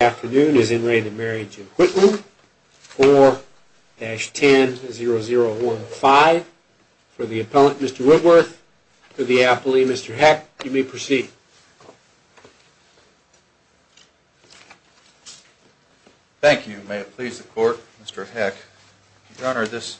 Afternoon is in re the Marriage of Wittland 4-10-0015. For the appellant Mr. Whitworth, for the appellee Mr. Heck, you may proceed. Thank you. May it please the court, Mr. Heck. Your Honor, this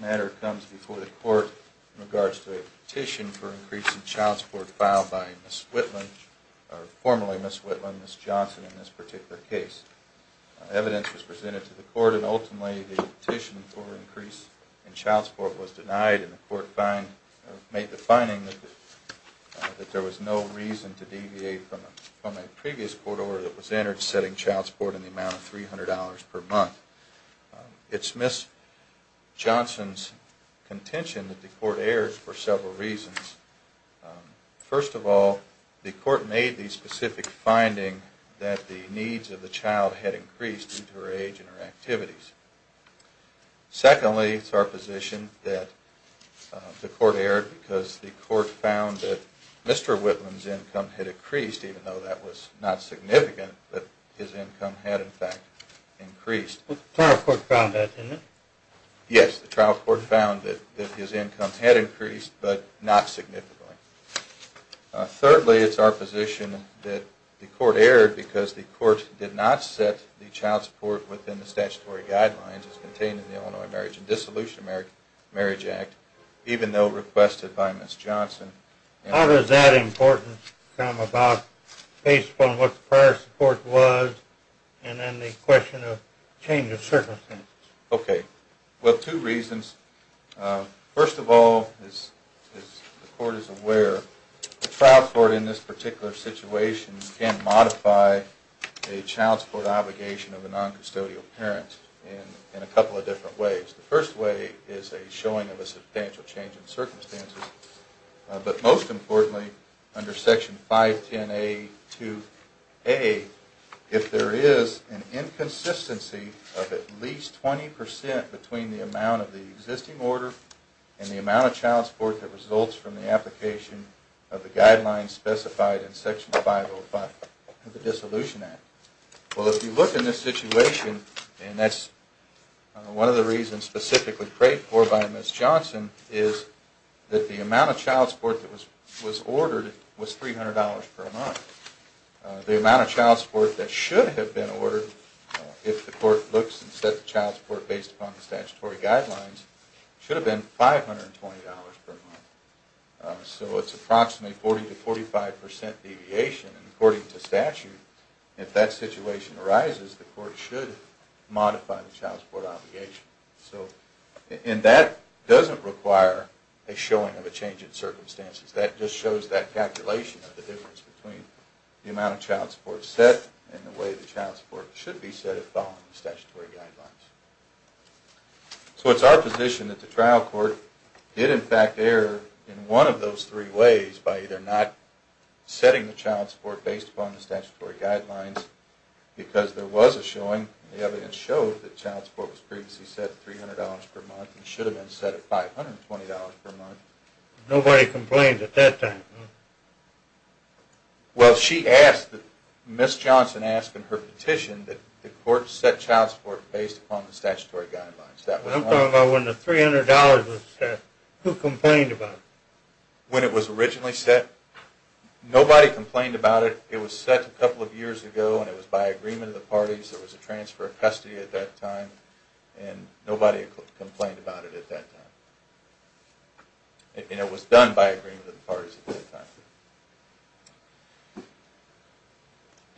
matter comes before the court in regards to a petition for increase in child support filed by Ms. Wittland, formerly Ms. Wittland, Ms. Johnson in this particular case. Evidence was presented to the court and ultimately the petition for increase in child support was denied and the court made the finding that there was no reason to deviate from a previous court order that was entered in the amount of $300 per month. It's Ms. Johnson's contention that the court erred for several reasons. First of all, the court made the specific finding that the needs of the child had increased due to her age and her activities. Secondly, it's our position that the court erred because the court found that Mr. Wittland's income had increased even though that was not significant, that his income had in fact increased. The trial court found that, didn't it? Yes, the trial court found that his income had increased but not significantly. Thirdly, it's our position that the court erred because the court did not set the child support within the statutory guidelines as contained in the Illinois Marriage and Dissolution Marriage Act even though requested by Ms. Johnson. How does that importance come about based upon what the prior support was and then the question of change of circumstances? Okay. Well, two reasons. First of all, as the court is aware, the trial court in this particular situation can modify a child support with obligation of a noncustodial parent in a couple of different ways. The first way is a showing of a substantial change in circumstances, but most importantly, under Section 510A2A, if there is an inconsistency of at least 20% between the amount of the existing order and the amount of child support that results from the application of the guidelines specified in Section 505 of the Dissolution Act. Well, if you look in this situation, and that's one of the reasons specifically prayed for by Ms. Johnson is that the amount of child support that was ordered was $300 per month. The amount of child support that was ordered was $400 per month. So it's approximately 40-45% deviation, and according to statute, if that situation arises, the court should modify the child support obligation. And that doesn't require a showing of a change in circumstances. That just shows that calculation of the difference between the amount of child support set and the way the child support should be set following the statutory guidelines. So it's our position that the trial court did in fact interfere in one of those three ways by either not setting the child support based upon the statutory guidelines, because there was a showing, the evidence showed, that child support was previously set at $300 per month and should have been set at $520 per month. Nobody complained at that time? Well, she asked, Ms. Johnson asked in her petition that the court set child support based upon the statutory guidelines. I'm talking about when the $300 was set, who complained about it? When it was originally set, nobody complained about it. It was set a couple of years ago and it was by agreement of the parties. There was a transfer of custody at that time, and nobody complained about it at that time. And it was done by agreement of the parties at that time.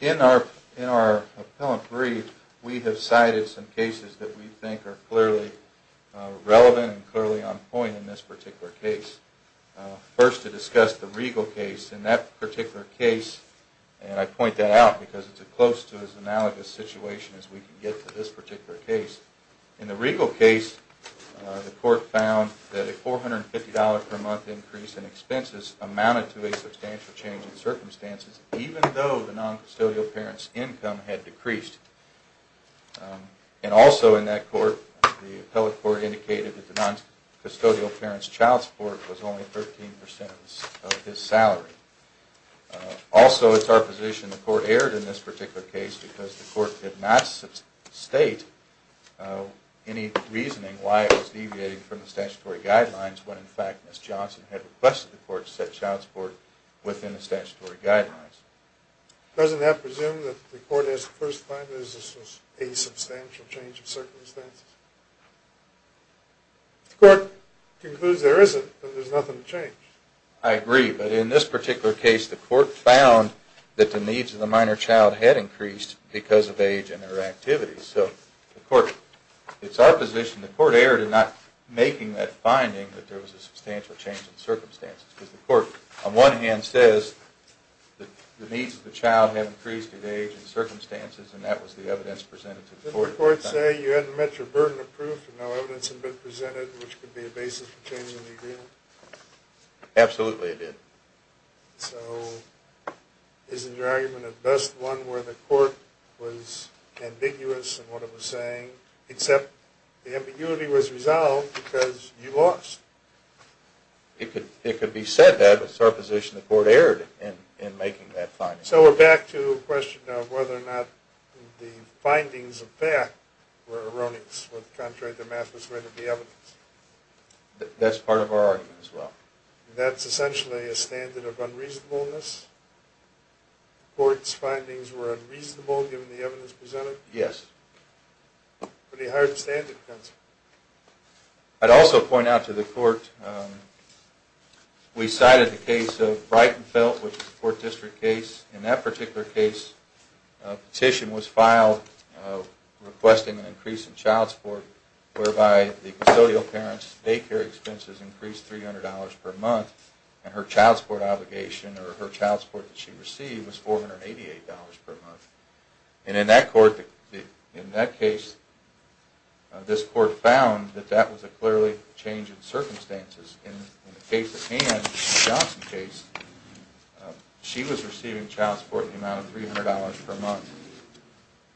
In our appellant brief, we have cited some cases that we think are clearly relevant and clearly on point in this particular case. First to discuss the Regal case. In that particular case, and I point that out because it's as close to an analogous situation as we can get to this particular case. In the Regal case, the court found that a $450 per month increase in expenses amounted to a substantial change in circumstances, even though the noncustodial parent's income had decreased. And also in that court, the appellate court indicated that the noncustodial parent's child support was only 13% of his salary. Also, it's our position the court erred in this particular case because the court did not state any reasoning why it was deviating from the statutory guidelines, when in fact Ms. Johnson had requested the court to set child support within the statutory guidelines. Doesn't that presume that the court has first find that this was a substantial change of circumstances? The court concludes there isn't, but there's nothing to change. I agree, but in this particular case, the court found that the needs of the minor child had increased because of age and their activities. So the court, it's our position the court erred in not making that finding that there was a substantial change in circumstances. Because the court, on one hand, says that the needs of the child had increased due to age and circumstances, and that was the evidence presented to the court. Did the court say you hadn't met your burden of proof and no evidence had been presented, which could be a basis for changing the agreement? Absolutely it did. So isn't your argument at best one where the court was ambiguous in what it was saying, except the ambiguity was resolved because you lost? It could be said that, but it's our position the court erred in making that finding. So we're back to the question of whether or not the findings of fact were erroneous when, contrary to math, it was written in the evidence. That's part of our argument as well. That's essentially a standard of unreasonableness? The court's findings were unreasonable given the evidence presented? Yes. Pretty hard standard. I'd also point out to the court, we cited the case of Breitenfeldt, which is a court district case. In that particular case, a petition was filed requesting an increase in child support, whereby the custodial parent's daycare expenses increased $300 per month, and her child support obligation or her child support that she received was $488 per month. And in that case, this court found that that was a clearly change in circumstances. In the case at hand, the Johnson case, she was receiving child support in the amount of $300 per month.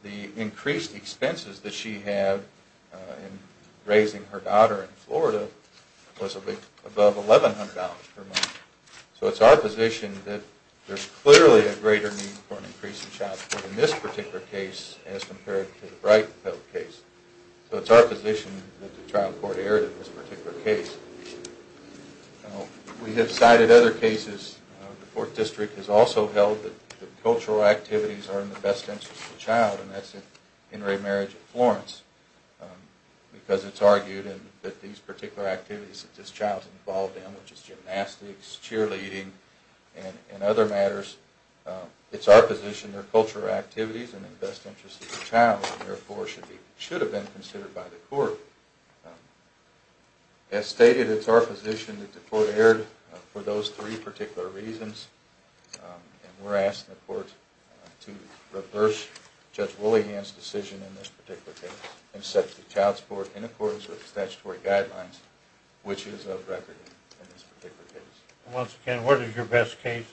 The increased expenses that she had in raising her daughter in Florida was above $1,100 per month. So it's our position that there's clearly a greater need for an increase in child support in this particular case as compared to the Breitenfeldt case. So it's our position that the trial court erred in this particular case. We have cited other cases. The fourth district has also held that the cultural activities are in the best interest of the child, and that's at Henry Marriage in Florence, because it's argued that these particular activities that this child is involved in, which is gymnastics, cheerleading, and other matters, it's our position that they're cultural activities and in the best interest of the child, and therefore should have been considered by the court. As stated, it's our position that the court erred for those three particular reasons, and we're asking the court to reverse Judge Woolleyan's decision in this particular case and set the child support in accordance with the statutory guidelines, which is of record in this particular case. Once again, what is your best case?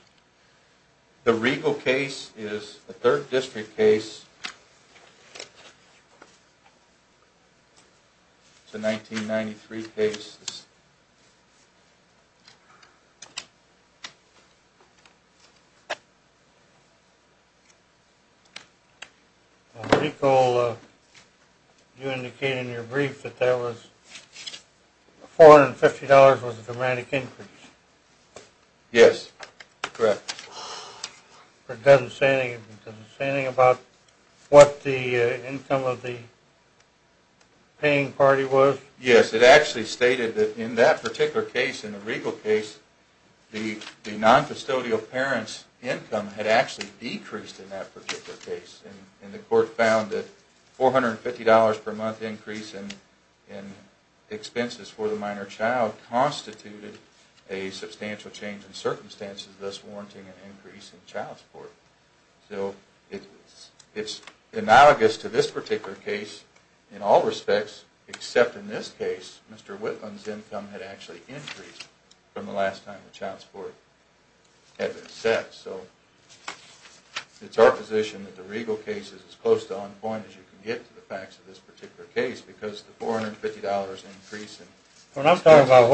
The Riegel case is a third district case. It's a 1993 case. Riegel, you indicated in your brief that $450 was a dramatic increase. Yes, correct. Does it say anything about what the income of the paying party was? Yes, it actually stated that in that particular case, in the Riegel case, the noncustodial parent's income had actually decreased in that particular case, and the court found that $450 per month increase in expenses for the minor child constituted a substantial change in circumstances, thus warranting an increase in child support. So it's analogous to this particular case in all respects, except in this case, Mr. Whitlam's income had actually increased from the last time the child support had been set. So it's our position that the Riegel case is as close to on point as you can get to the facts of this particular case, because the $450 increase in expenses... Well, I'm talking about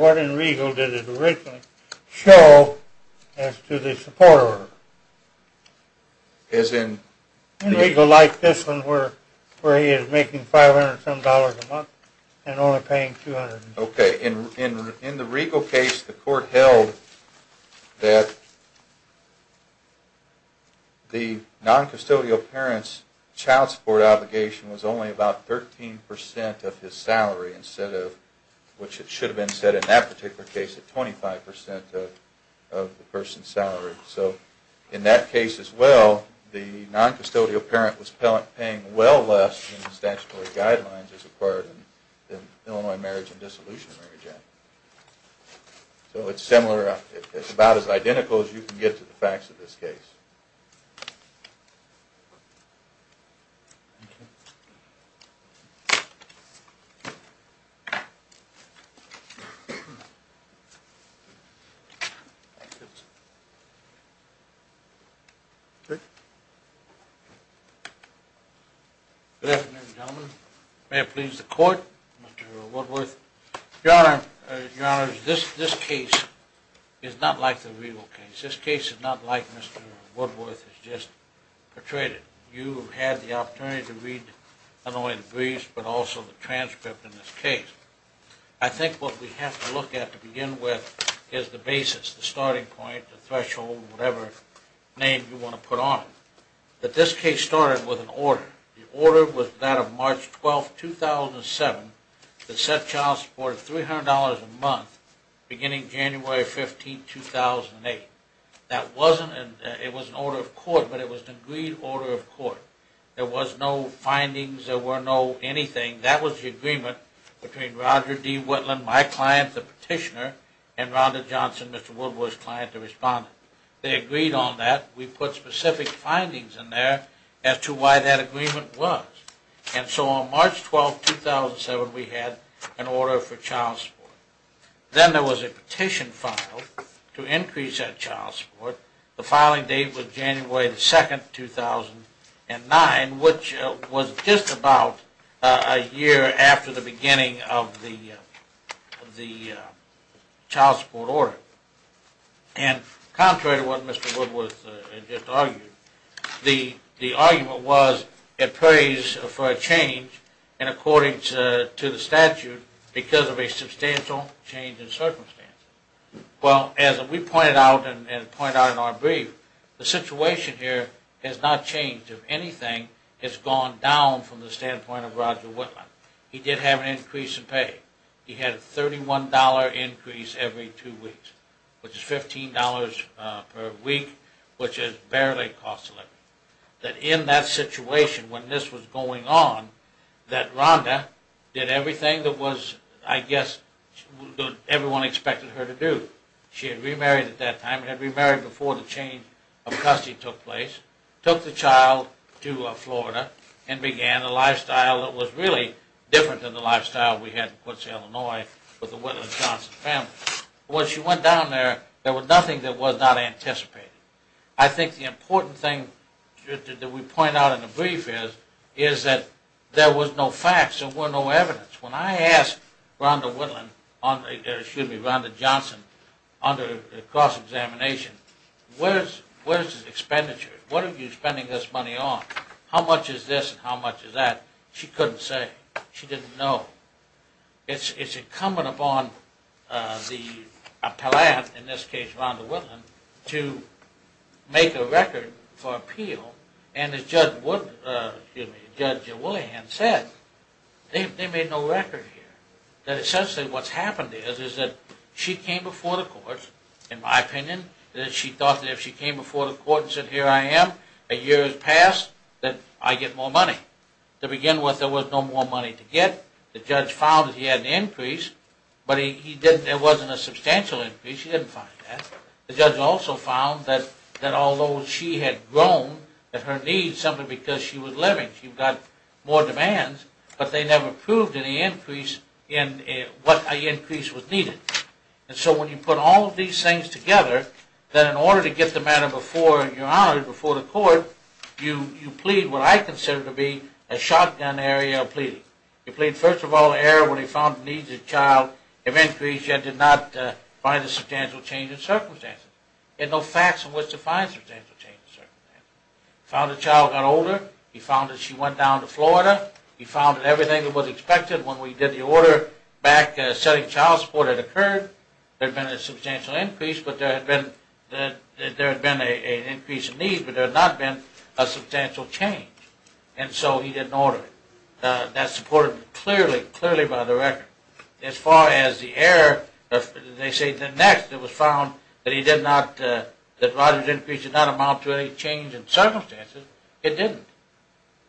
what in Riegel did it originally show as to the support order. As in... In Riegel, like this one, where he is making $500 some dollars a month and only paying $200. Okay. In the Riegel case, the court held that the noncustodial parent's child support obligation was only about 13% of his salary, which it should have been set in that particular case at 25% of the person's salary. So in that case as well, the noncustodial parent was paying well less than the statutory guidelines as required in the Illinois Marriage and Dissolution Regulations. So it's about as identical as you can get to the facts of this case. Okay. Good afternoon, gentlemen. May it please the court, Mr. Woodworth. Your Honor, this case is not like the Riegel case. This case is not like Mr. Woodworth has just portrayed it. You had the opportunity to read not only the briefs, but also the transcript in this case. I think what we have to look at to begin with is the basis, the starting point, the threshold, whatever name you want to put on it. But this case started with an order. The order was that of March 12, 2007, that set child support at $300 a month beginning January 15, 2008. That wasn't an... It was an order of court, but it was an agreed order of court. There was no findings. There were no anything. That was the agreement between Roger D. Whitland, my client, the petitioner, and Rhonda Johnson, Mr. Woodworth's client, the respondent. They agreed on that. We put specific findings in there as to why that agreement was. And so on March 12, 2007, we had an order for child support. Then there was a petition filed to increase that child support. The filing date was January 2, 2009, which was just about a year after the beginning of the child support order. And contrary to what Mr. Woodworth just argued, the argument was it pays for a change in accordance to the statute because of a substantial change in circumstances. Well, as we pointed out and pointed out in our brief, the situation here has not changed. If anything, it's gone down from the standpoint of Roger Whitland. He did have an increase in pay. He had a $31 increase every two weeks, which is $15 per week, which has barely cost a living. But in that situation, when this was going on, that Rhonda did everything that I guess everyone expected her to do. She had remarried at that time. She had remarried before the change of custody took place. Took the child to Florida and began a lifestyle that was really different than the lifestyle we had in Quincy, Illinois with the Whitland-Johnson family. When she went down there, there was nothing that was not anticipated. I think the important thing that we point out in the brief is that there was no facts. There were no evidence. When I asked Rhonda Johnson under the cross-examination, where's the expenditure? What are you spending this money on? How much is this and how much is that? She couldn't say. She didn't know. It's incumbent upon the appellate, in this case Rhonda Whitland, to make a record for appeal. And as Judge Wood, excuse me, Judge Willihan said, they made no record here. That essentially what's happened is that she came before the courts, in my opinion, that she thought that if she came before the court and said, here I am, a year has passed, that I get more money. To begin with, there was no more money to get. The judge found that he had an increase, but it wasn't a substantial increase. He didn't find that. The judge also found that although she had grown in her needs simply because she was living, she got more demands, but they never proved any increase in what increase was needed. And so when you put all of these things together, that in order to get the matter before your honor, before the court, you plead what I consider to be a shotgun area of pleading. You plead, first of all, error when he found the needs of the child have increased yet did not find a substantial change in circumstances. There are no facts in which to find substantial change in circumstances. He found the child got older. He found that she went down to Florida. He found that everything that was expected when we did the order back setting child support had occurred. There had been a substantial increase, but there had been an increase in needs, but there had not been a substantial change. And so he didn't order it. That's supported clearly, clearly by the record. As far as the error, they say the next that was found that he did not, that Roger's increase did not amount to any change in circumstances, it didn't.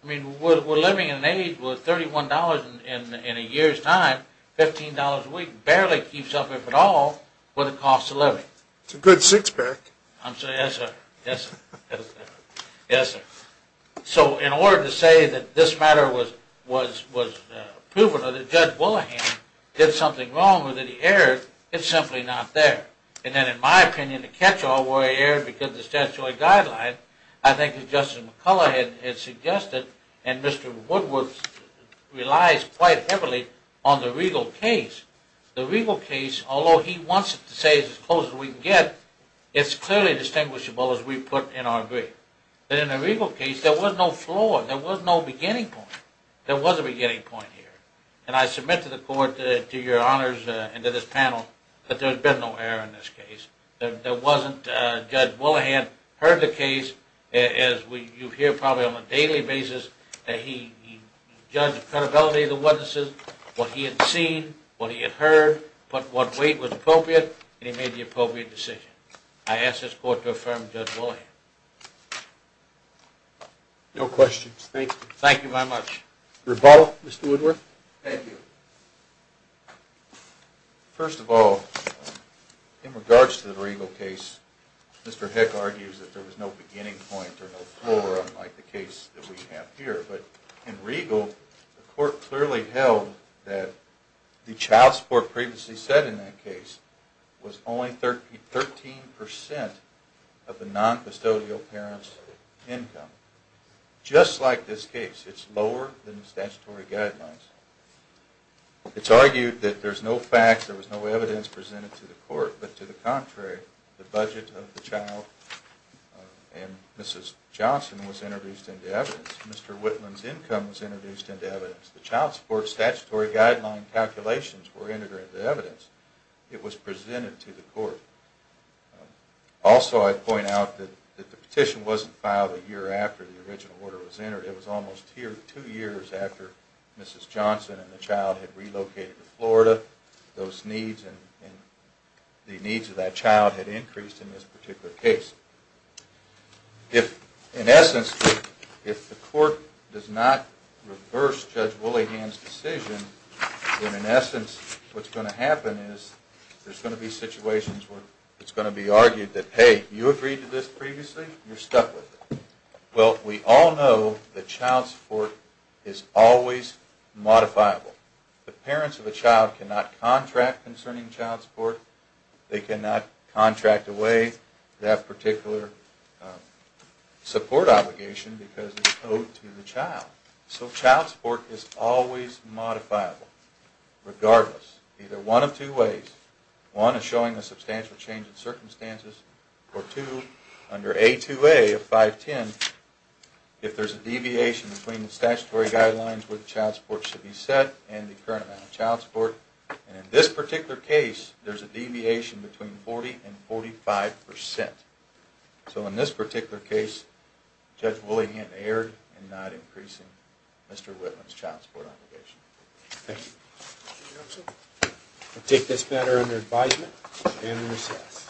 I mean, we're living in an age where $31 in a year's time, $15 a week, barely keeps up, if at all, with the cost of living. It's a good six-pack. Yes, sir. Yes, sir. So in order to say that this matter was proven or that Judge Wollohan did something wrong or that he erred, it's simply not there. And then in my opinion, the catch-all where he erred because of the statutory guideline, I think as Justice McCullough had suggested, and Mr. Woodward relies quite heavily on the regal case, the regal case, although he wants it to stay as close as we can get, it's clearly distinguishable as we put in our brief. But in the regal case, there was no flaw. There was no beginning point. There was a beginning point here. And I submit to the Court, to your honors and to this panel, that there's been no error in this case. There wasn't. And Judge Wollohan heard the case, as you hear probably on a daily basis, that he judged the credibility of the witnesses, what he had seen, what he had heard, what weight was appropriate, and he made the appropriate decision. I ask this Court to affirm Judge Wollohan. No questions. Thank you. Thank you very much. Rebuttal, Mr. Woodward? Thank you. First of all, in regards to the regal case, Mr. Heck argues that there was no beginning point or no flaw, unlike the case that we have here. But in regal, the Court clearly held that the child support previously set in that case was only 13% of the noncustodial parent's income. Just like this case, it's lower than the statutory guidelines. It's argued that there's no fact, there was no evidence presented to the Court, but to the contrary, the budget of the child and Mrs. Johnson was introduced into evidence. Mr. Whitman's income was introduced into evidence. The child support statutory guideline calculations were integrated into evidence. It was presented to the Court. Also, I point out that the petition wasn't filed a year after the original order was entered. It was almost two years after Mrs. Johnson and the child had relocated to Florida. Those needs and the needs of that child had increased in this particular case. If, in essence, if the Court does not reverse Judge Woolyhand's decision, then in essence, what's going to happen is there's going to be situations where it's going to be argued that, hey, you agreed to this previously, you're stuck with it. Well, we all know that child support is always modifiable. The parents of a child cannot contract concerning child support. They cannot contract away that particular support obligation because it's owed to the child. So child support is always modifiable, regardless. Either one of two ways. One is showing a substantial change in circumstances. Or two, under A2A of 510, if there's a deviation between the statutory guidelines where the child support should be set and the current amount of child support. And in this particular case, there's a deviation between 40 and 45%. So in this particular case, Judge Woolyhand erred in not increasing Mr. Whitman's child support obligation. Thank you. I'll take this matter under advisement and recess.